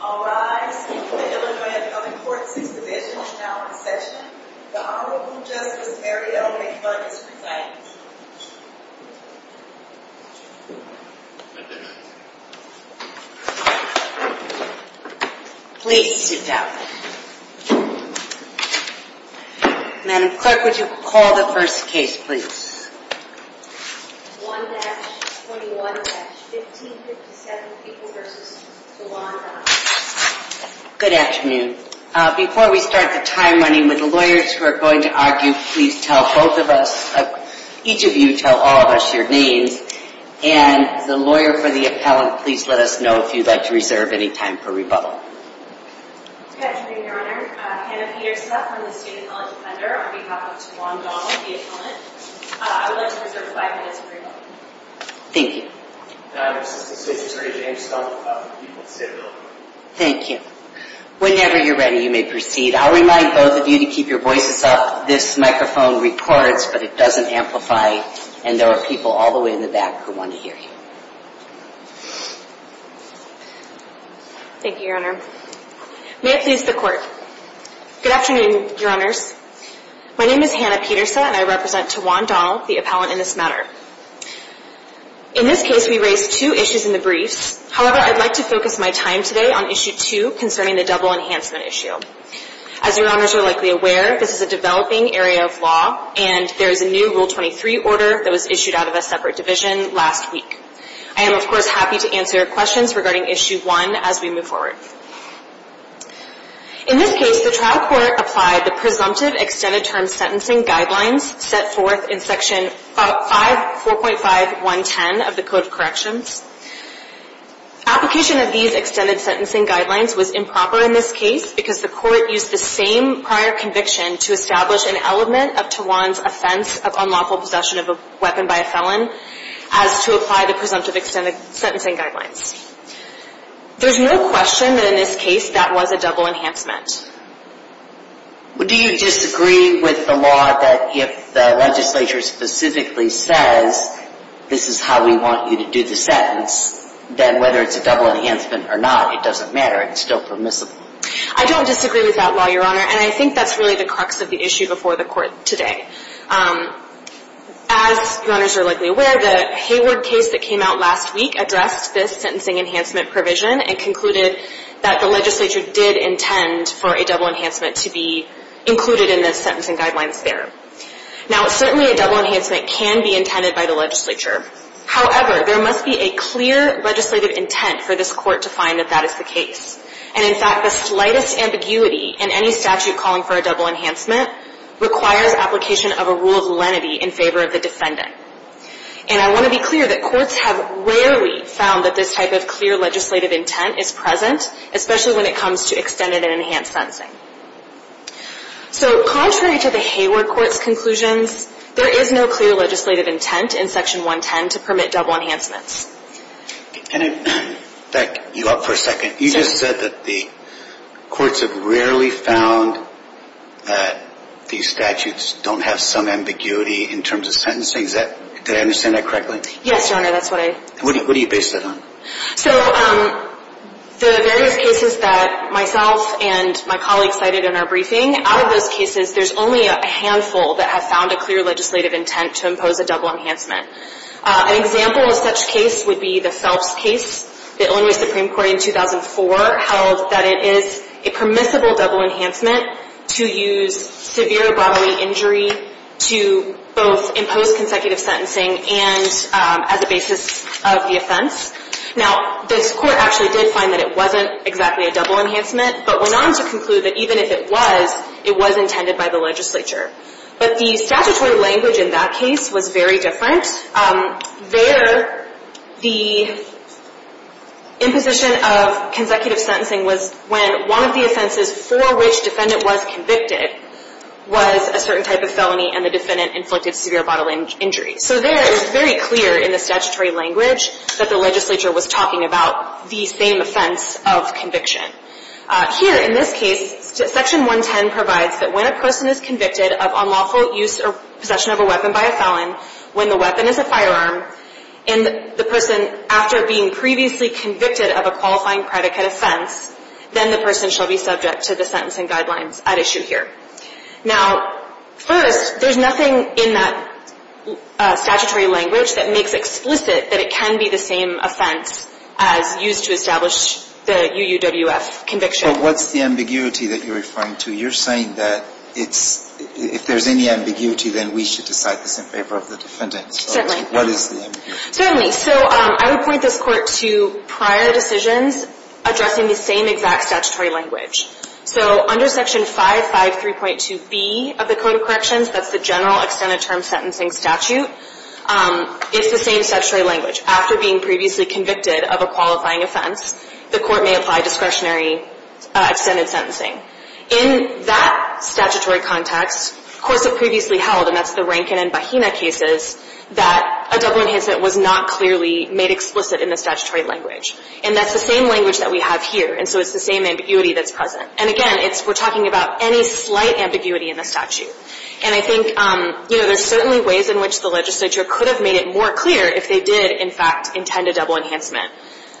I'll rise. I'm going to go ahead to other courts. This division is now in session. The Honorable Justice Marietta Obey Clark is presiding. Please sit down. Madam Clerk, would you call the first case, please? 1-21-1557 People v. Juan Donald Good afternoon. Before we start the time running, would the lawyers who are going to argue please tell both of us, each of you tell all of us your names. And the lawyer for the appellant, please let us know if you'd like to reserve any time for rebuttal. Good afternoon, Your Honor. Hannah Peterseff, I'm the state appellant defender on behalf of Juan Donald, the appellant. I would like to reserve five minutes for rebuttal. Thank you. Thank you. Whenever you're ready, you may proceed. I'll remind both of you to keep your voices up. This microphone reports, but it doesn't amplify, and there are people all the way in the back who want to hear you. Thank you, Your Honor. May it please the Court. Good afternoon, Your Honors. My name is Hannah Peterseff, and I represent to Juan Donald, the appellant in this matter. In this case, we raised two issues in the briefs. However, I'd like to focus my time today on Issue 2 concerning the double enhancement issue. As Your Honors are likely aware, this is a developing area of law, and there is a new Rule 23 order that was issued out of a separate division last week. I am, of course, happy to answer your questions regarding Issue 1 as we move forward. In this case, the trial court applied the presumptive extended-term sentencing guidelines set forth in Section 4.5.110 of the Code of Corrections. Application of these extended sentencing guidelines was improper in this case because the court used the same prior conviction to establish an element of Tawan's offense of unlawful possession of a weapon by a felon as to apply the presumptive extended sentencing guidelines. There's no question that in this case, that was a double enhancement. Do you disagree with the law that if the legislature specifically says, this is how we want you to do the sentence, then whether it's a double enhancement or not, it doesn't matter, it's still permissible? I don't disagree with that law, Your Honor, and I think that's really the crux of the issue before the Court today. As Your Honors are likely aware, the Hayward case that came out last week addressed this sentencing enhancement provision and concluded that the legislature did intend for a double enhancement to be included in the sentencing guidelines there. Now, certainly a double enhancement can be intended by the legislature. However, there must be a clear legislative intent for this Court to find that that is the case. And in fact, the slightest ambiguity in any statute calling for a double enhancement requires application of a rule of lenity in favor of the defendant. And I want to be clear that courts have rarely found that this type of clear legislative intent is present, especially when it comes to extended and enhanced sentencing. So, contrary to the Hayward Court's conclusions, there is no clear legislative intent in Section 110 to permit double enhancements. And, Beck, you're up for a second. You just said that the courts have rarely found that these statutes don't have some ambiguity in terms of sentencing. Did I understand that correctly? Yes, Your Honor, that's what I... What do you base that on? So, the various cases that myself and my colleagues cited in our briefing, out of those cases, there's only a handful that have found a clear legislative intent to impose a double enhancement. An example of such case would be the Phelps case. The Illinois Supreme Court in 2004 held that it is a permissible double enhancement to use severe bodily injury to both impose consecutive sentencing and as a basis of the offense. Now, this Court actually did find that it wasn't exactly a double enhancement, but went on to conclude that even if it was, it was intended by the legislature. But the statutory language in that case was very different. There, the imposition of consecutive sentencing was when one of the offenses for which the defendant was convicted was a certain type of felony and the defendant inflicted severe bodily injury. So there, it was very clear in the statutory language that the legislature was talking about the same offense of conviction. Here, in this case, Section 110 provides that when a person is convicted of unlawful use or possession of a weapon by a felon, when the weapon is a firearm, and the person, after being previously convicted of a qualifying predicate offense, then the person shall be subject to the sentencing guidelines at issue here. Now, first, there's nothing in that statutory language that makes explicit that it can be the same offense as used to establish the UUWF conviction. But what's the ambiguity that you're referring to? You're saying that it's – if there's any ambiguity, then we should decide this in favor of the defendant. Certainly. So what is the ambiguity? Certainly. So I would point this Court to prior decisions addressing the same exact statutory language. So under Section 553.2b of the Code of Corrections, that's the General Extended Term Sentencing Statute, is the same statutory language. After being previously convicted of a qualifying offense, the Court may apply discretionary extended sentencing. In that statutory context, courts have previously held, and that's the Rankin and Bahena cases, that a double enhancement was not clearly made explicit in the statutory language. And that's the same language that we have here. And so it's the same ambiguity that's present. And, again, it's – we're talking about any slight ambiguity in the statute. And I think, you know, there's certainly ways in which the legislature could have made it more clear if they did, in fact, intend a double enhancement.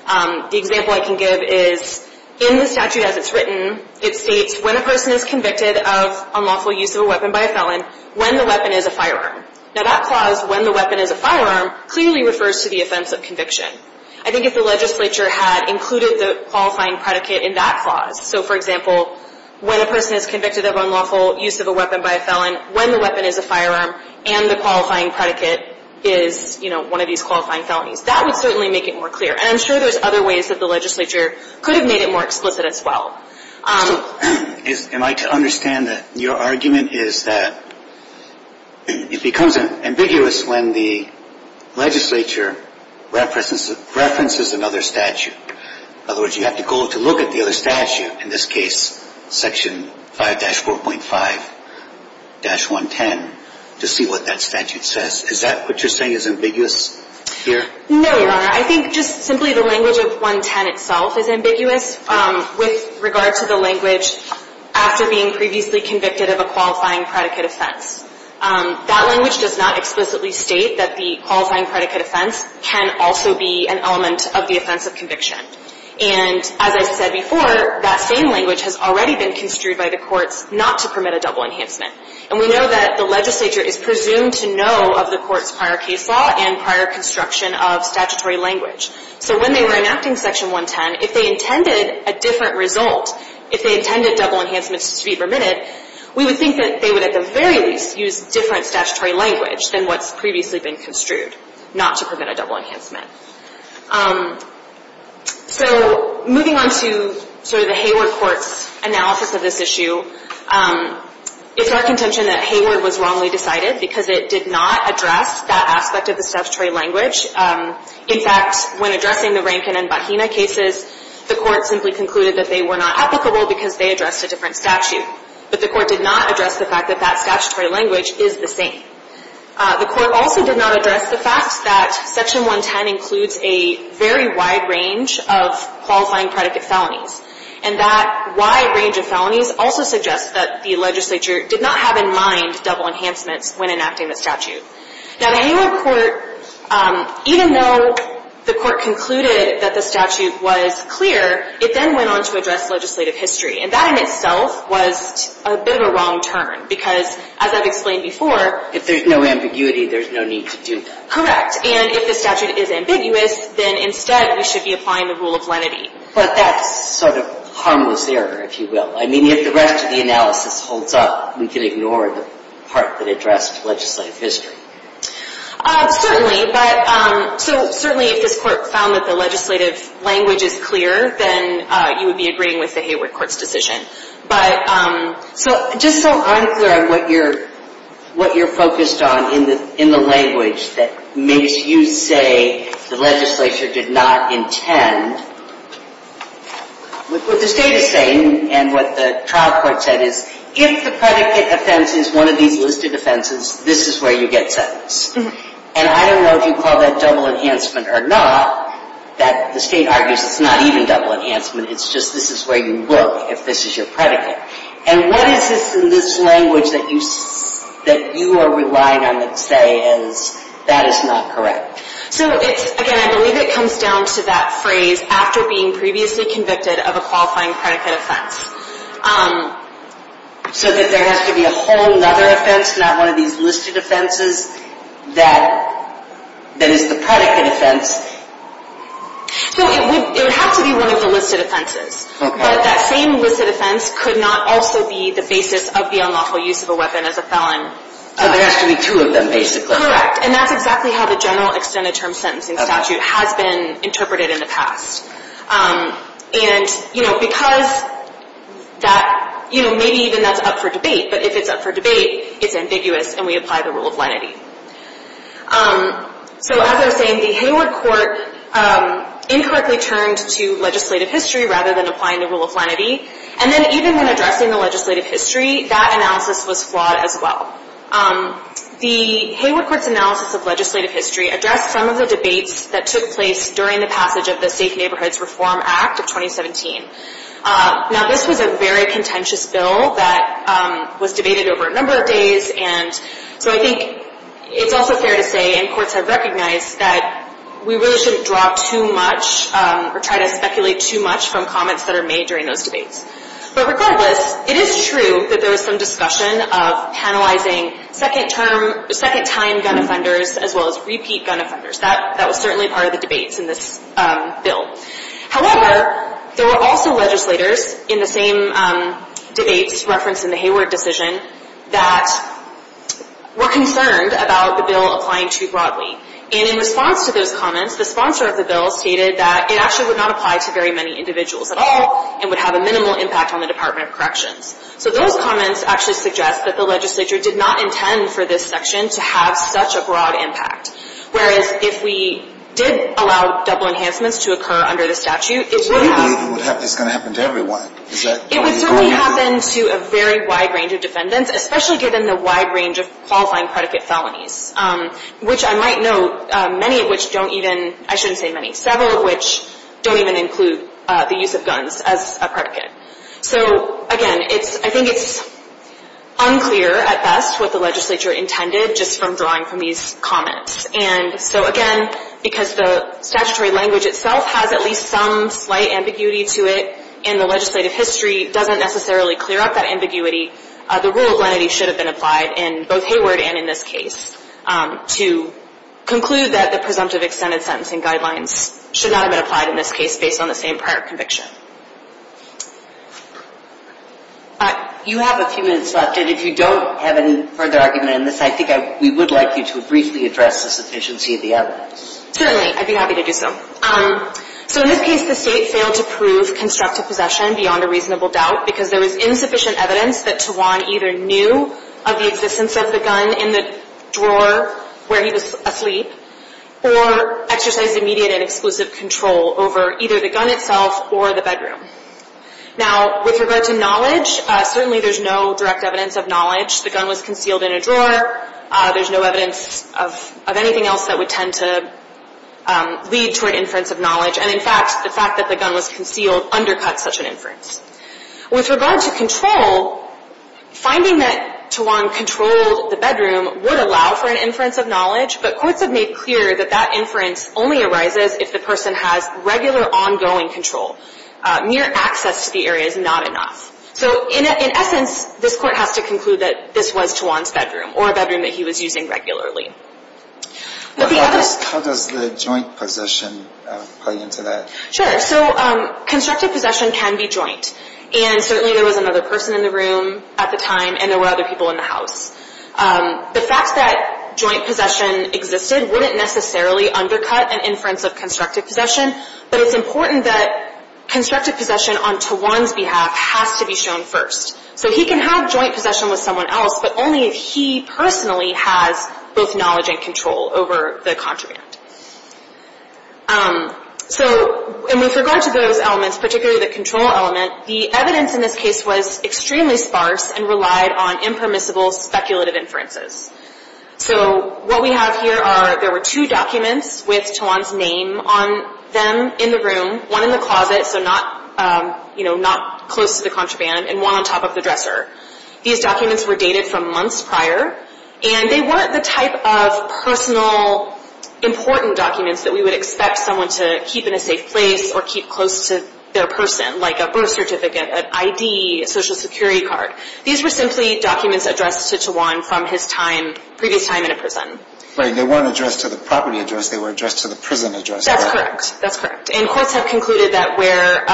The example I can give is, in the statute as it's written, it states, when a person is convicted of unlawful use of a weapon by a felon, when the weapon is a firearm. Now, that clause, when the weapon is a firearm, clearly refers to the offense of conviction. I think if the legislature had included the qualifying predicate in that clause, so, for example, when a person is convicted of unlawful use of a weapon by a felon, when the weapon is a firearm, and the qualifying predicate is, you know, one of these qualifying felonies, that would certainly make it more clear. And I'm sure there's other ways that the legislature could have made it more explicit as well. Am I to understand that your argument is that it becomes ambiguous when the legislature references another statute? In other words, you have to go to look at the other statute, in this case, Section 5-4.5-110, to see what that statute says. Is that what you're saying is ambiguous here? No, Your Honor. I think just simply the language of 110 itself is ambiguous with regard to the language after being previously convicted of a qualifying predicate offense. That language does not explicitly state that the qualifying predicate offense can also be an element of the offense of conviction. And as I said before, that same language has already been construed by the courts not to permit a double enhancement. And we know that the legislature is presumed to know of the court's prior case law and prior construction of statutory language. So when they were enacting Section 110, if they intended a different result, if they intended double enhancements to be permitted, we would think that they would at the very least use different statutory language than what's previously been construed, not to permit a double enhancement. So moving on to sort of the Hayward Court's analysis of this issue, it's our contention that Hayward was wrongly decided because it did not address that aspect of the statutory language. In fact, when addressing the Rankin and Bahena cases, the Court simply concluded that they were not applicable because they addressed a different statute. But the Court did not address the fact that that statutory language is the same. The Court also did not address the fact that Section 110 includes a very wide range of qualifying predicate felonies. And that wide range of felonies also suggests that the legislature did not have in mind double enhancements when enacting the statute. Now, the Hayward Court, even though the Court concluded that the statute was clear, it then went on to address legislative history. And that in itself was a bit of a wrong turn because, as I've explained before, if there's no ambiguity, there's no need to do that. Correct. And if the statute is ambiguous, then instead we should be applying the rule of lenity. But that's sort of harmless error, if you will. I mean, if the rest of the analysis holds up, we can ignore the part that addressed legislative history. Certainly. But so certainly if this Court found that the legislative language is clear, then you would be agreeing with the Hayward Court's decision. But so just so I'm clear on what you're focused on in the language that makes you say the legislature did not intend, what the State is saying and what the trial court said is, if the predicate offense is one of these listed offenses, this is where you get sentence. And I don't know if you call that double enhancement or not. The State argues it's not even double enhancement. It's just this is where you look if this is your predicate. And what is this in this language that you are relying on to say is that is not correct? So, again, I believe it comes down to that phrase, after being previously convicted of a qualifying predicate offense. So that there has to be a whole other offense, not one of these listed offenses? That is the predicate offense. So it would have to be one of the listed offenses. Okay. But that same listed offense could not also be the basis of the unlawful use of a weapon as a felon. So there has to be two of them, basically. Correct. And that's exactly how the general extended term sentencing statute has been interpreted in the past. And, you know, because that, you know, maybe even that's up for debate. But if it's up for debate, it's ambiguous and we apply the rule of lenity. So as I was saying, the Hayward Court incorrectly turned to legislative history rather than applying the rule of lenity. And then even when addressing the legislative history, that analysis was flawed as well. The Hayward Court's analysis of legislative history addressed some of the debates that took place during the passage of the Safe Neighborhoods Reform Act of 2017. Now, this was a very contentious bill that was debated over a number of days. And so I think it's also fair to say, and courts have recognized, that we really shouldn't drop too much or try to speculate too much from comments that are made during those debates. But regardless, it is true that there was some discussion of penalizing second-time gun offenders as well as repeat gun offenders. That was certainly part of the debates in this bill. However, there were also legislators in the same debates referenced in the Hayward decision that were concerned about the bill applying too broadly. And in response to those comments, the sponsor of the bill stated that it actually would not apply to very many individuals at all and would have a minimal impact on the Department of Corrections. So those comments actually suggest that the legislature did not intend for this section to have such a broad impact. Whereas if we did allow double enhancements to occur under the statute, it would have... So you believe it's going to happen to everyone? It would certainly happen to a very wide range of defendants, especially given the wide range of qualifying predicate felonies. Which I might note, many of which don't even, I shouldn't say many, several of which don't even include the use of guns as a predicate. So, again, I think it's unclear at best what the legislature intended just from drawing from these comments. And so, again, because the statutory language itself has at least some slight ambiguity to it and the legislative history doesn't necessarily clear up that ambiguity, the rule of lenity should have been applied in both Hayward and in this case to conclude that the presumptive extended sentencing guidelines should not have been applied in this case based on the same prior conviction. You have a few minutes left, and if you don't have any further argument in this, I think we would like you to briefly address the sufficiency of the evidence. Certainly, I'd be happy to do so. So in this case, the state failed to prove constructive possession beyond a reasonable doubt because there was insufficient evidence that Tawan either knew of the existence of the gun in the drawer where he was asleep or exercised immediate and exclusive control over either the gun itself or the bedroom. Now, with regard to knowledge, certainly there's no direct evidence of knowledge. The gun was concealed in a drawer. There's no evidence of anything else that would tend to lead to an inference of knowledge. And in fact, the fact that the gun was concealed undercuts such an inference. With regard to control, finding that Tawan controlled the bedroom would allow for an inference of knowledge, but courts have made clear that that inference only arises if the person has regular ongoing control. Mere access to the area is not enough. So in essence, this Court has to conclude that this was Tawan's bedroom or a bedroom that he was using regularly. How does the joint possession play into that? Sure. So constructive possession can be joint. And certainly there was another person in the room at the time, and there were other people in the house. The fact that joint possession existed wouldn't necessarily undercut an inference of constructive possession, but it's important that constructive possession on Tawan's behalf has to be shown first. So he can have joint possession with someone else, but only if he personally has both knowledge and control over the contraband. And with regard to those elements, particularly the control element, the evidence in this case was extremely sparse and relied on impermissible speculative inferences. So what we have here are there were two documents with Tawan's name on them in the room, one in the closet, so not, you know, not close to the contraband, and one on top of the dresser. These documents were dated from months prior, and they weren't the type of personal important documents that we would expect someone to keep in a safe place or keep close to their person, like a birth certificate, an ID, a Social Security card. These were simply documents addressed to Tawan from his time, previous time in a prison. Right. They weren't addressed to the property address. They were addressed to the prison address. That's correct. That's correct. And courts have concluded that where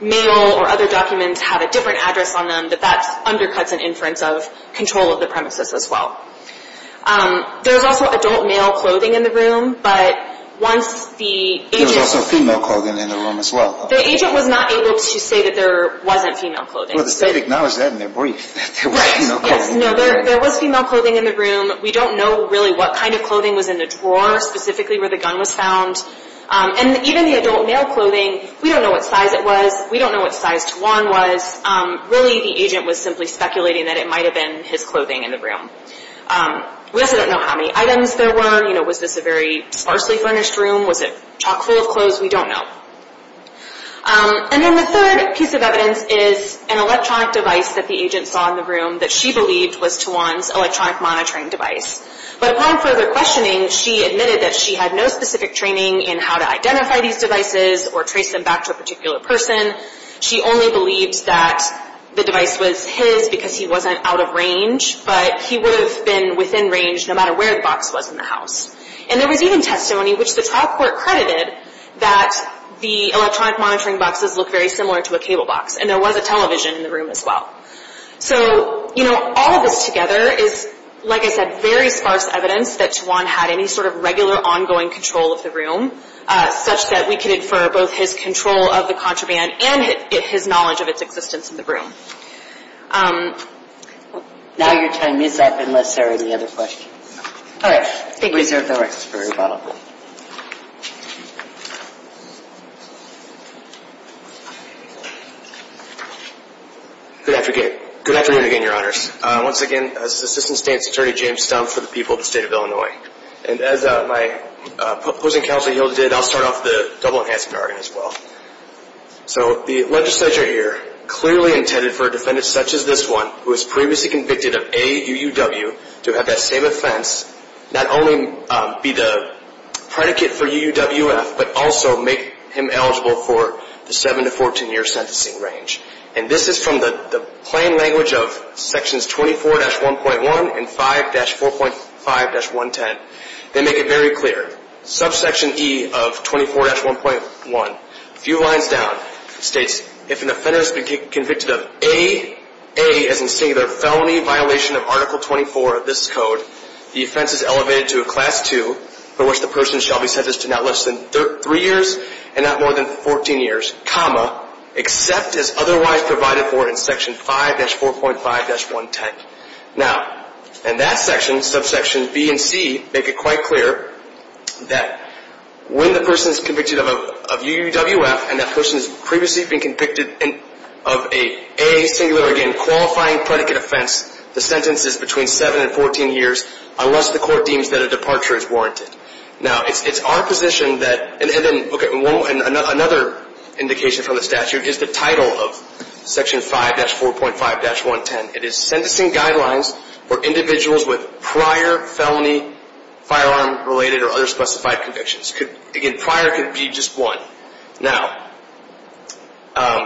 male or other documents have a different address on them, that that undercuts an inference of control of the premises as well. There was also adult male clothing in the room, but once the agent... There was also female clothing in the room as well. The agent was not able to say that there wasn't female clothing. Well, they did acknowledge that in their brief, that there was female clothing. Right. Yes. No, there was female clothing in the room. We don't know really what kind of clothing was in the drawer, specifically where the gun was found. And even the adult male clothing, we don't know what size it was. We don't know what size Tawan was. Really, the agent was simply speculating that it might have been his clothing in the room. We also don't know how many items there were. You know, was this a very sparsely furnished room? Was it chock full of clothes? We don't know. And then the third piece of evidence is an electronic device that the agent saw in the room that she believed was Tawan's electronic monitoring device. But upon further questioning, she admitted that she had no specific training in how to identify these devices or trace them back to a particular person. She only believed that the device was his because he wasn't out of range, but he would have been within range no matter where the box was in the house. And there was even testimony which the trial court credited that the electronic monitoring boxes look very similar to a cable box, and there was a television in the room as well. So, you know, all of this together is, like I said, very sparse evidence that Tawan had any sort of regular ongoing control of the room, such that we could infer both his control of the contraband and his knowledge of its existence in the room. Now your time is up unless there are any other questions. All right. Reserve the rest for rebuttal. Good afternoon again, Your Honors. Once again, this is Assistant State's Attorney James Stumpf for the people of the State of Illinois. And as my opposing counsel Hill did, I'll start off the double-enhancing argument as well. So the legislature here clearly intended for a defendant such as this one, who was previously convicted of AUUW, to have that same offense, not only be the predicate for UUWF, but also make him eligible for the 7-14 year sentencing range. And this is from the plain language of Sections 24-1.1 and 5-4.5-110. They make it very clear. Subsection E of 24-1.1, a few lines down, states, if an offender has been convicted of A, A as in singular, felony violation of Article 24 of this code, the offense is elevated to a Class 2, for which the person shall be sentenced to not less than three years and not more than 14 years, comma, except as otherwise provided for in Section 5-4.5-110. Now, in that section, subsection B and C, make it quite clear that when the person is convicted of UUWF and that person has previously been convicted of A, singular again, a qualifying predicate offense, the sentence is between 7 and 14 years, unless the court deems that a departure is warranted. Now, it's our position that – and another indication from the statute is the title of Section 5-4.5-110. It is sentencing guidelines for individuals with prior felony firearm-related or other specified convictions. Again, prior could be just one. Now,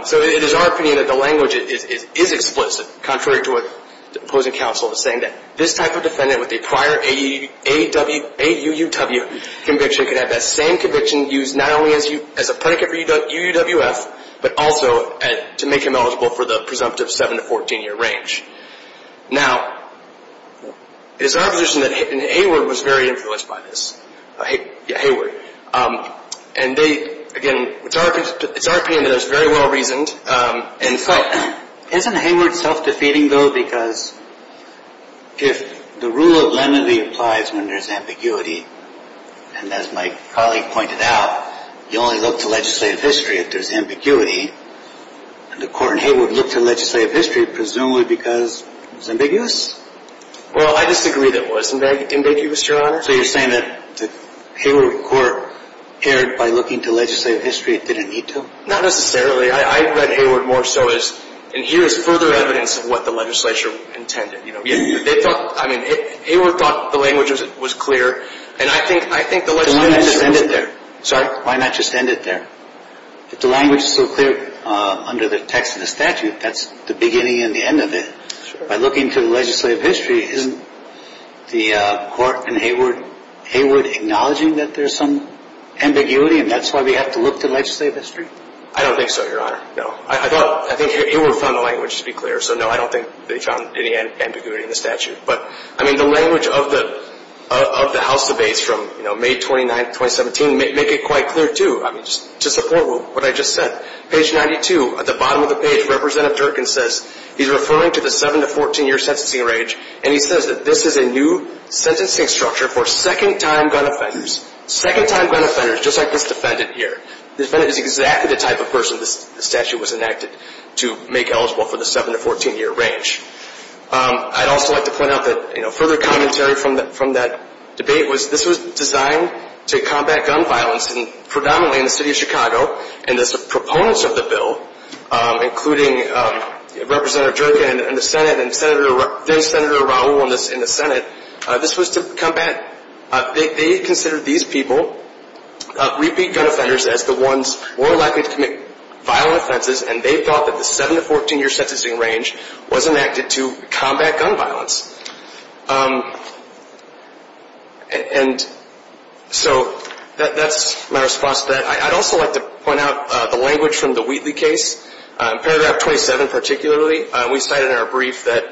so it is our opinion that the language is explicit, contrary to what the opposing counsel is saying, that this type of defendant with a prior AUUW conviction could have that same conviction used not only as a predicate for UUWF, but also to make him eligible for the presumptive 7-14 year range. Now, it is our position that Hayward was very influenced by this. Yeah, Hayward. And again, it's our opinion that it was very well reasoned. In fact, isn't Hayward self-defeating, though, because if the rule of lenity applies when there's ambiguity, and as my colleague pointed out, you only look to legislative history if there's ambiguity, the court in Hayward looked to legislative history presumably because it was ambiguous? Well, I disagree that it was ambiguous, Your Honor. So you're saying that the Hayward court erred by looking to legislative history. It didn't need to? Not necessarily. I read Hayward more so as, and here is further evidence of what the legislature intended. They thought, I mean, Hayward thought the language was clear, and I think the legislative history was clear. Then why not just end it there? Sorry? Why not just end it there? If the language is so clear under the text of the statute, that's the beginning and the end of it. By looking to legislative history, isn't the court in Hayward acknowledging that there's some ambiguity and that's why we have to look to legislative history? I don't think so, Your Honor. No. I thought, I think Hayward found the language to be clear, so no, I don't think they found any ambiguity in the statute. But, I mean, the language of the House debates from, you know, May 29, 2017 make it quite clear too. I mean, just to support what I just said, page 92, at the bottom of the page, Representative Durkin says, he's referring to the 7-14 year sentencing range, and he says that this is a new sentencing structure for second-time gun offenders. Second-time gun offenders, just like this defendant here. This defendant is exactly the type of person the statute was enacted to make eligible for the 7-14 year range. I'd also like to point out that, you know, further commentary from that debate was this was designed to combat gun violence predominantly in the city of Chicago, and as the proponents of the bill, including Representative Durkin in the Senate and Senator Raul in the Senate, this was to combat, they considered these people, repeat gun offenders, as the ones more likely to commit violent offenses, and they thought that the 7-14 year sentencing range was enacted to combat gun violence. And so that's my response to that. I'd also like to point out the language from the Wheatley case, paragraph 27 particularly. We cited in our brief that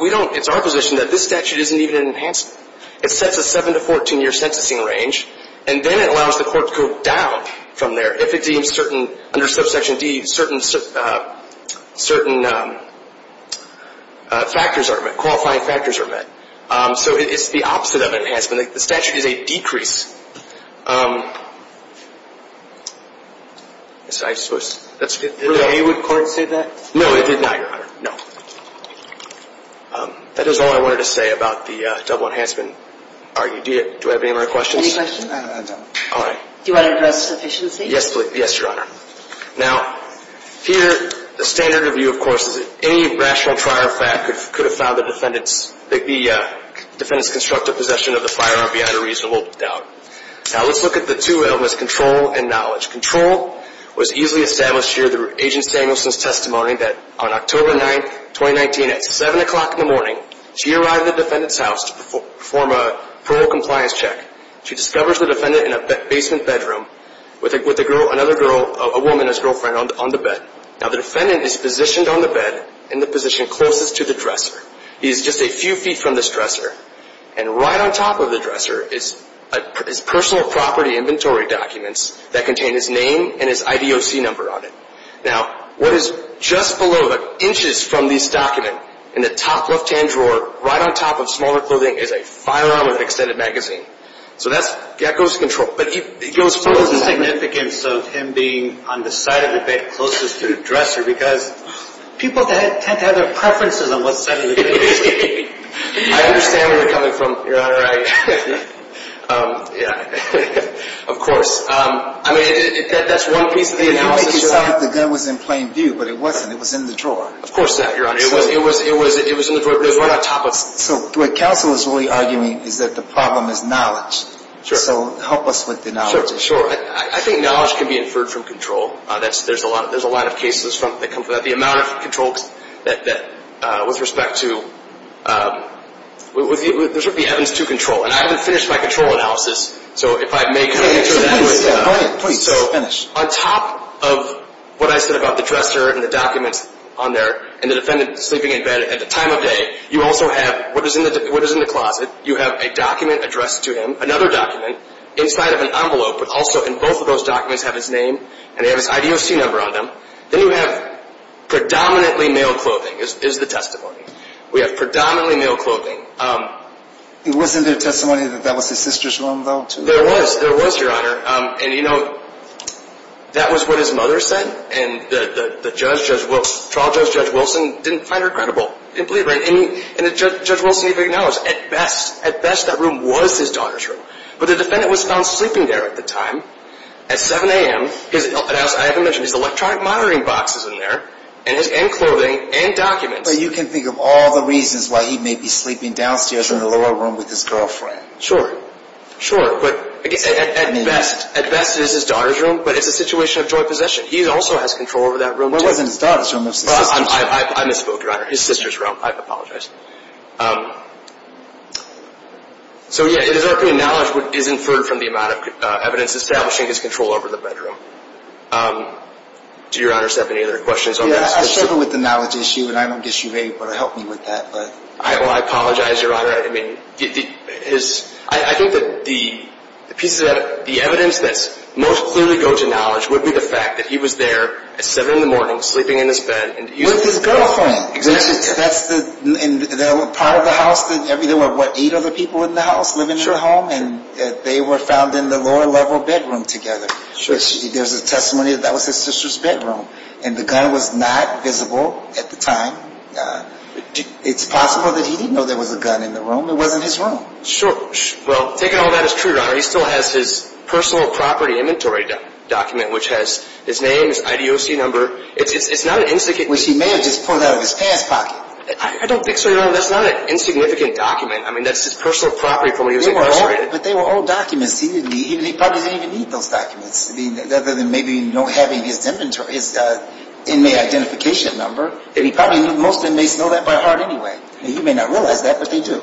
we don't, it's our position that this statute isn't even an enhancement. It sets a 7-14 year sentencing range, and then it allows the court to go down from there. If it deems certain, under subsection D, certain factors are, qualifying factors are met. So it's the opposite of enhancement. The statute is a decrease. Did any court say that? No, it did not, Your Honor. No. That is all I wanted to say about the double enhancement argument. Do I have any more questions? Any questions? Do you want to address sufficiency? Yes, please. Yes, Your Honor. Now, here, the standard review, of course, is that any rational trier of fact could have found the defendant's, the defendant's constructive possession of the firearm beyond a reasonable doubt. Now, let's look at the two elements, control and knowledge. Control was easily established here through Agent Samuelson's testimony that on October 9, 2019, at 7 o'clock in the morning, she arrived at the defendant's house to perform a parole compliance check. She discovers the defendant in a basement bedroom with a girl, another girl, a woman, his girlfriend, on the bed. Now, the defendant is positioned on the bed in the position closest to the dresser. He is just a few feet from this dresser, and right on top of the dresser is personal property inventory documents that contain his name and his IDOC number on it. Now, what is just below, inches from this document, in the top left-hand drawer, right on top of smaller clothing, is a firearm and extended magazine. So that goes to control. So what is the significance of him being on the side of the bed closest to the dresser? Because people tend to have their preferences on what side of the bed they should be. I understand where you're coming from, Your Honor. Right. Yeah. Of course. I mean, that's one piece of the analysis. You make it sound like the gun was in plain view, but it wasn't. It was in the drawer. Of course not, Your Honor. So what counsel is really arguing is that the problem is knowledge. Sure. So help us with the knowledge issue. Sure. I think knowledge can be inferred from control. There's a lot of cases that come from that. The amount of control that, with respect to, those would be evidence to control. And I haven't finished my control analysis, so if I may kind of answer that. Please, finish. On top of what I said about the dresser and the documents on there and the defendant sleeping in bed at the time of day, you also have what is in the closet. You have a document addressed to him, another document, inside of an envelope, but also in both of those documents have his name and they have his IDOC number on them. Then you have predominantly male clothing is the testimony. We have predominantly male clothing. It was in the testimony that that was his sister's room, though, too. There was. There was, Your Honor. And, you know, that was what his mother said, and the trial judge, Judge Wilson, didn't find her credible. He didn't believe her. And Judge Wilson even knows, at best, at best, that room was his daughter's room. But the defendant was found sleeping there at the time at 7 a.m. I haven't mentioned, there's electronic monitoring boxes in there and clothing and documents. So you can think of all the reasons why he may be sleeping downstairs in the lower room with his girlfriend. Sure, sure. But, at best, at best, it is his daughter's room, but it's a situation of joint possession. He also has control over that room. It wasn't his daughter's room. I misspoke, Your Honor. His sister's room. I apologize. So, yeah, it is our opinion knowledge is inferred from the amount of evidence establishing his control over the bedroom. Do Your Honor have any other questions on this? Yeah, I struggle with the knowledge issue, and I guess you may want to help me with that. Well, I apologize, Your Honor. I think that the evidence that most clearly goes to knowledge would be the fact that he was there at 7 a.m. sleeping in his bed. With his girlfriend. Exactly. That's part of the house. There were, what, eight other people in the house living in the home? Sure. And they were found in the lower-level bedroom together. Sure. There's a testimony that that was his sister's bedroom, and the gun was not visible at the time. It's possible that he didn't know there was a gun in the room. It wasn't his room. Sure. Well, taking all that as true, Your Honor, he still has his personal property inventory document, which has his name, his IDOC number. It's not an insignificant. Which he may have just pulled out of his past pocket. I don't think so, Your Honor. That's not an insignificant document. I mean, that's his personal property from when he was incarcerated. But they were all documents. He probably didn't even need those documents, other than maybe not having his inmate identification number. Most inmates know that by heart anyway. You may not realize that, but they do.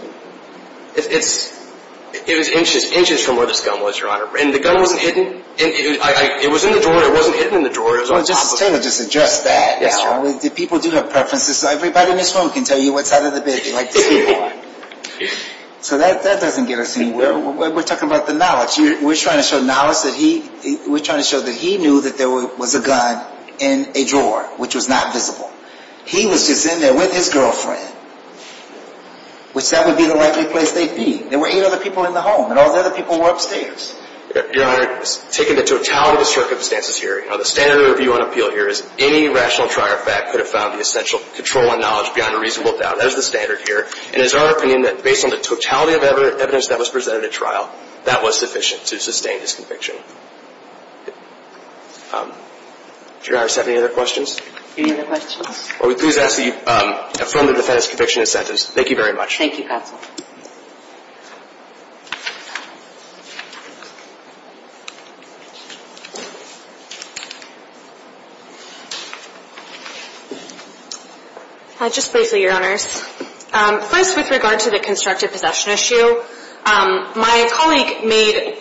It was inches from where this gun was, Your Honor. And the gun wasn't hidden. It was in the drawer. It wasn't hidden in the drawer. Justice Taylor just addressed that. Yes, Your Honor. People do have preferences. Everybody in this room can tell you what side of the bed they like to sleep on. So that doesn't get us anywhere. We're talking about the knowledge. We're trying to show knowledge. We're trying to show that he knew that there was a gun in a drawer, which was not visible. He was just in there with his girlfriend, which that would be the likely place they'd be. There were eight other people in the home, and all the other people were upstairs. Your Honor, taking the totality of the circumstances here, the standard of review on appeal here is any rational trial fact could have found the essential control and knowledge beyond a reasonable doubt. That is the standard here. And it is our opinion that based on the totality of evidence that was presented at trial, that was sufficient to sustain his conviction. Do you guys have any other questions? Any other questions? Well, we please ask that you affirm the defendant's conviction and sentence. Thank you, counsel. Just briefly, Your Honors. First, with regard to the constructive possession issue, my colleague made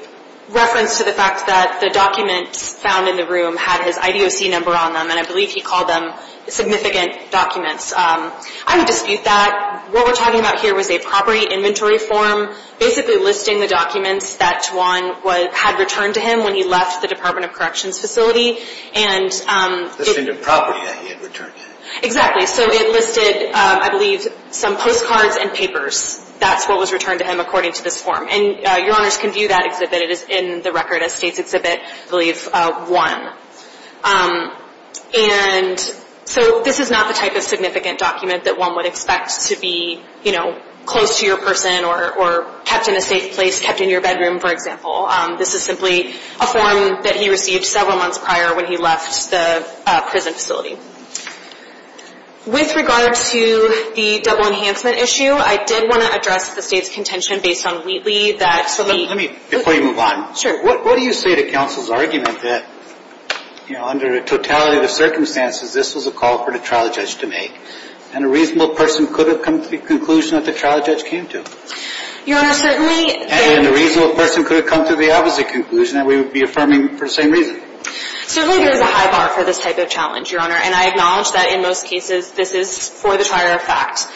reference to the fact that the documents found in the room had his IDOC number on them, and I believe he called them significant documents. I would dispute that. What we're talking about here was a property inventory form basically listing the documents that Juan had returned to him when he left the Department of Corrections facility. Listing the property that he had returned to him. Exactly. So it listed, I believe, some postcards and papers. That's what was returned to him according to this form. And Your Honors can view that exhibit. It is in the record as State's Exhibit, I believe, 1. And so this is not the type of significant document that one would expect to be, you know, close to your person or kept in a safe place, kept in your bedroom, for example. This is simply a form that he received several months prior when he left the prison facility. With regard to the double enhancement issue, I did want to address the State's contention based on Wheatley that... Let me, before you move on. Sure. What do you say to counsel's argument that, you know, under the totality of the circumstances, this was a call for the trial judge to make? And a reasonable person could have come to the conclusion that the trial judge came to. Your Honor, certainly... And a reasonable person could have come to the opposite conclusion that we would be affirming for the same reason. Certainly there's a high bar for this type of challenge, Your Honor. And I acknowledge that in most cases this is for the trier of facts.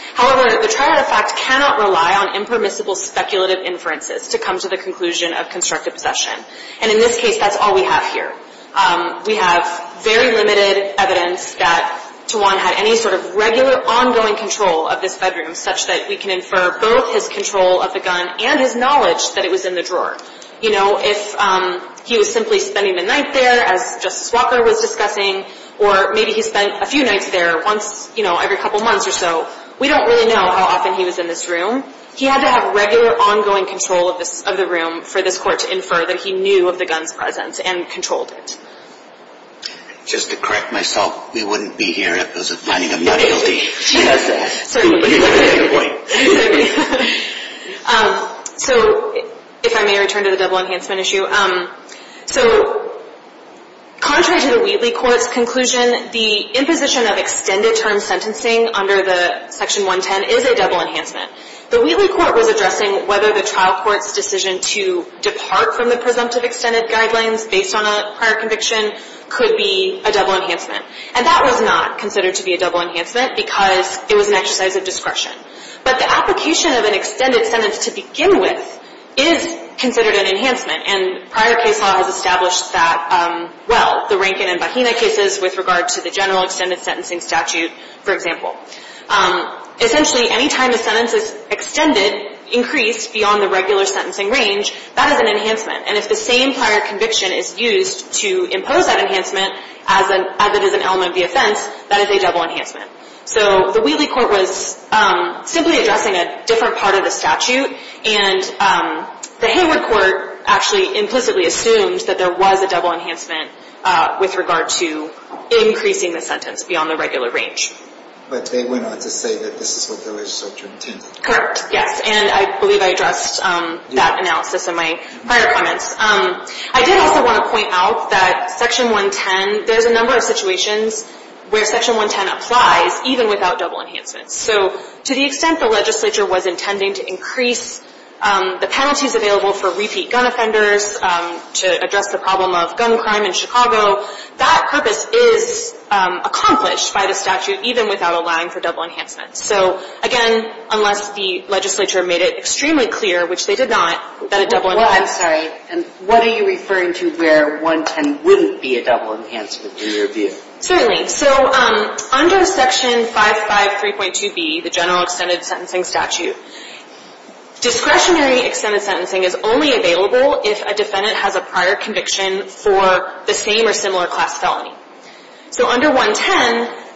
And in this case, that's all we have here. We have very limited evidence that Tawan had any sort of regular ongoing control of this bedroom such that we can infer both his control of the gun and his knowledge that it was in the drawer. You know, if he was simply spending the night there, as Justice Walker was discussing, or maybe he spent a few nights there once, you know, every couple months or so, we don't really know how often he was in this room. He had to have regular ongoing control of the room for this court to infer that he knew of the gun's presence and controlled it. Just to correct myself, we wouldn't be here if it was a finding of not guilty. Certainly. But you got to make a point. So, if I may return to the double enhancement issue. So, contrary to the Wheatley Court's conclusion, the imposition of extended term sentencing under the Section 110 is a double enhancement. The Wheatley Court was addressing whether the trial court's decision to depart from the presumptive extended guidelines based on a prior conviction could be a double enhancement. And that was not considered to be a double enhancement because it was an exercise of discretion. But the application of an extended sentence to begin with is considered an enhancement. And prior case law has established that well. The Rankin and Bahena cases with regard to the general extended sentencing statute, for example. Essentially, any time a sentence is extended, increased beyond the regular sentencing range, that is an enhancement. And if the same prior conviction is used to impose that enhancement as it is an element of the offense, that is a double enhancement. So, the Wheatley Court was simply addressing a different part of the statute. And the Hayward Court actually implicitly assumed that there was a double enhancement with regard to increasing the sentence beyond the regular range. But they went on to say that this is what the legislature intended. Correct, yes. And I believe I addressed that analysis in my prior comments. I did also want to point out that Section 110, there's a number of situations where Section 110 applies even without double enhancements. So, to the extent the legislature was intending to increase the penalties available for repeat gun offenders to address the problem of gun crime in Chicago, that purpose is accomplished by the statute even without allowing for double enhancements. So, again, unless the legislature made it extremely clear, which they did not, that a double enhancement I'm sorry, and what are you referring to where 110 wouldn't be a double enhancement in your view? Certainly. So, under Section 553.2b, the general extended sentencing statute, discretionary extended sentencing is only available if a defendant has a prior conviction for the same or similar class felony. So, under 110,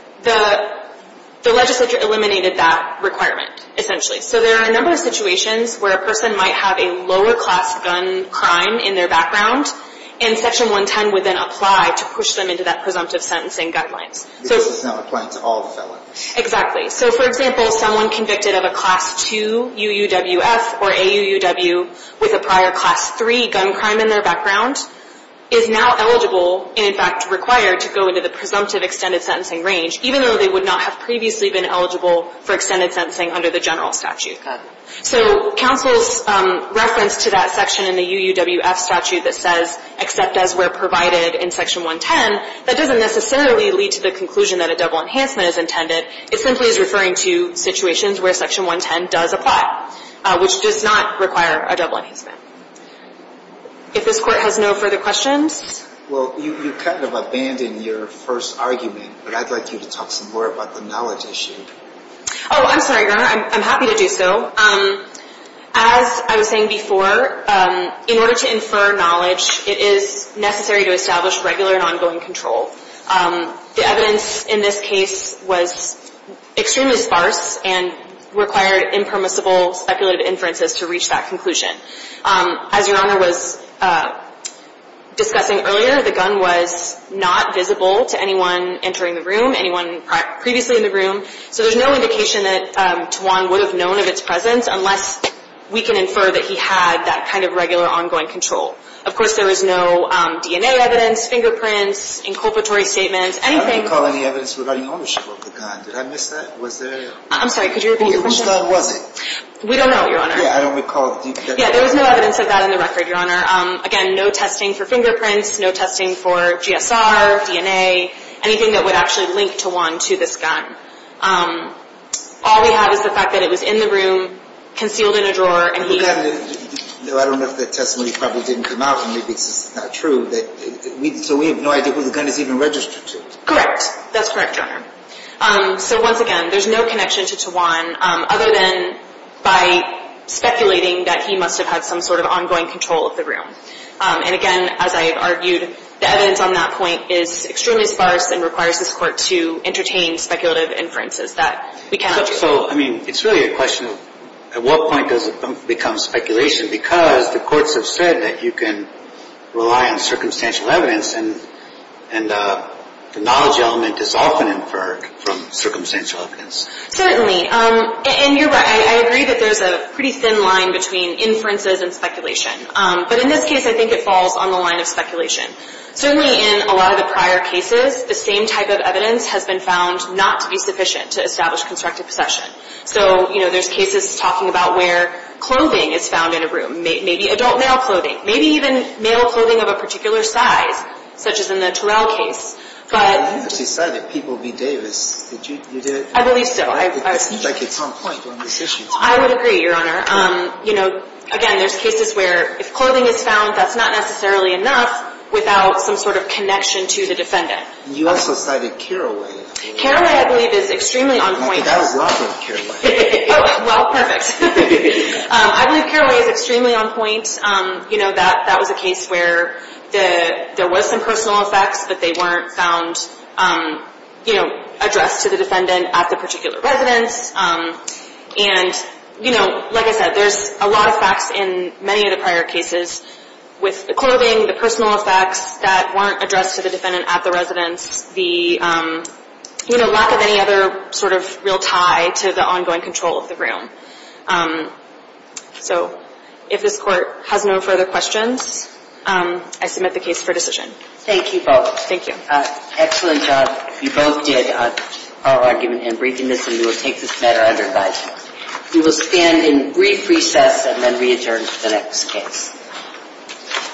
the legislature eliminated that requirement, essentially. So, there are a number of situations where a person might have a lower class gun crime in their background, and Section 110 would then apply to push them into that presumptive sentencing guidelines. This is now applying to all felonies. Exactly. So, for example, someone convicted of a Class II UUWF or AUUW with a prior Class III gun crime in their background is now eligible and, in fact, required to go into the presumptive extended sentencing range, even though they would not have previously been eligible for extended sentencing under the general statute. Okay. So, counsel's reference to that section in the UUWF statute that says, except as where provided in Section 110, that doesn't necessarily lead to the conclusion that a double enhancement is intended. It simply is referring to situations where Section 110 does apply, which does not require a double enhancement. If this Court has no further questions? Well, you kind of abandoned your first argument, but I'd like you to talk some more about the knowledge issue. Oh, I'm sorry, Your Honor. I'm happy to do so. As I was saying before, in order to infer knowledge, it is necessary to establish regular and ongoing control. The evidence in this case was extremely sparse and required impermissible speculative inferences to reach that conclusion. As Your Honor was discussing earlier, the gun was not visible to anyone entering the room, anyone previously in the room, so there's no indication that Tawan would have known of its presence unless we can infer that he had that kind of regular ongoing control. Of course, there was no DNA evidence, fingerprints, inculpatory statements, anything. I don't recall any evidence regarding ownership of the gun. Did I miss that? I'm sorry, could you repeat your question? Which gun was it? We don't know, Your Honor. Yeah, I don't recall. Yeah, there was no evidence of that in the record, Your Honor. Again, no testing for fingerprints, no testing for GSR, DNA, anything that would actually link Tawan to this gun. All we have is the fact that it was in the room, concealed in a drawer, and he... I don't know if that testimony probably didn't come out, and maybe it's just not true, so we have no idea who the gun is even registered to. Correct. That's correct, Your Honor. So once again, there's no connection to Tawan other than by speculating that he must have had some sort of ongoing control of the room. And again, as I have argued, the evidence on that point is extremely sparse and requires this Court to entertain speculative inferences that we cannot... So, I mean, it's really a question of at what point does it become speculation because the courts have said that you can rely on circumstantial evidence and the knowledge element is often inferred from circumstantial evidence. Certainly. And you're right. I agree that there's a pretty thin line between inferences and speculation. But in this case, I think it falls on the line of speculation. Certainly in a lot of the prior cases, the same type of evidence has been found not to be sufficient to establish constructive possession. So, you know, there's cases talking about where clothing is found in a room, maybe adult male clothing, maybe even male clothing of a particular size, such as in the Terrell case. But... Well, you just decided people would be Davis. Did you do it? I believe so. It seems like it's on point when this issue is brought up. I would agree, Your Honor. You know, again, there's cases where if clothing is found, that's not necessarily enough without some sort of connection to the defendant. You also cited Carraway. Carraway, I believe, is extremely on point. I think that was well put, Carraway. Well, perfect. I believe Carraway is extremely on point. You know, that was a case where there was some personal effects, but they weren't found, you know, addressed to the defendant at the particular residence. And, you know, like I said, there's a lot of facts in many of the prior cases with the clothing, the personal effects that weren't addressed to the defendant at the residence, the lack of any other sort of real tie to the ongoing control of the room. So if this Court has no further questions, I submit the case for decision. Thank you both. Thank you. Excellent job. You both did a powerful argument in breaking this, and we will take this matter under advisement. We will stand in brief recess and then re-adjourn to the next case.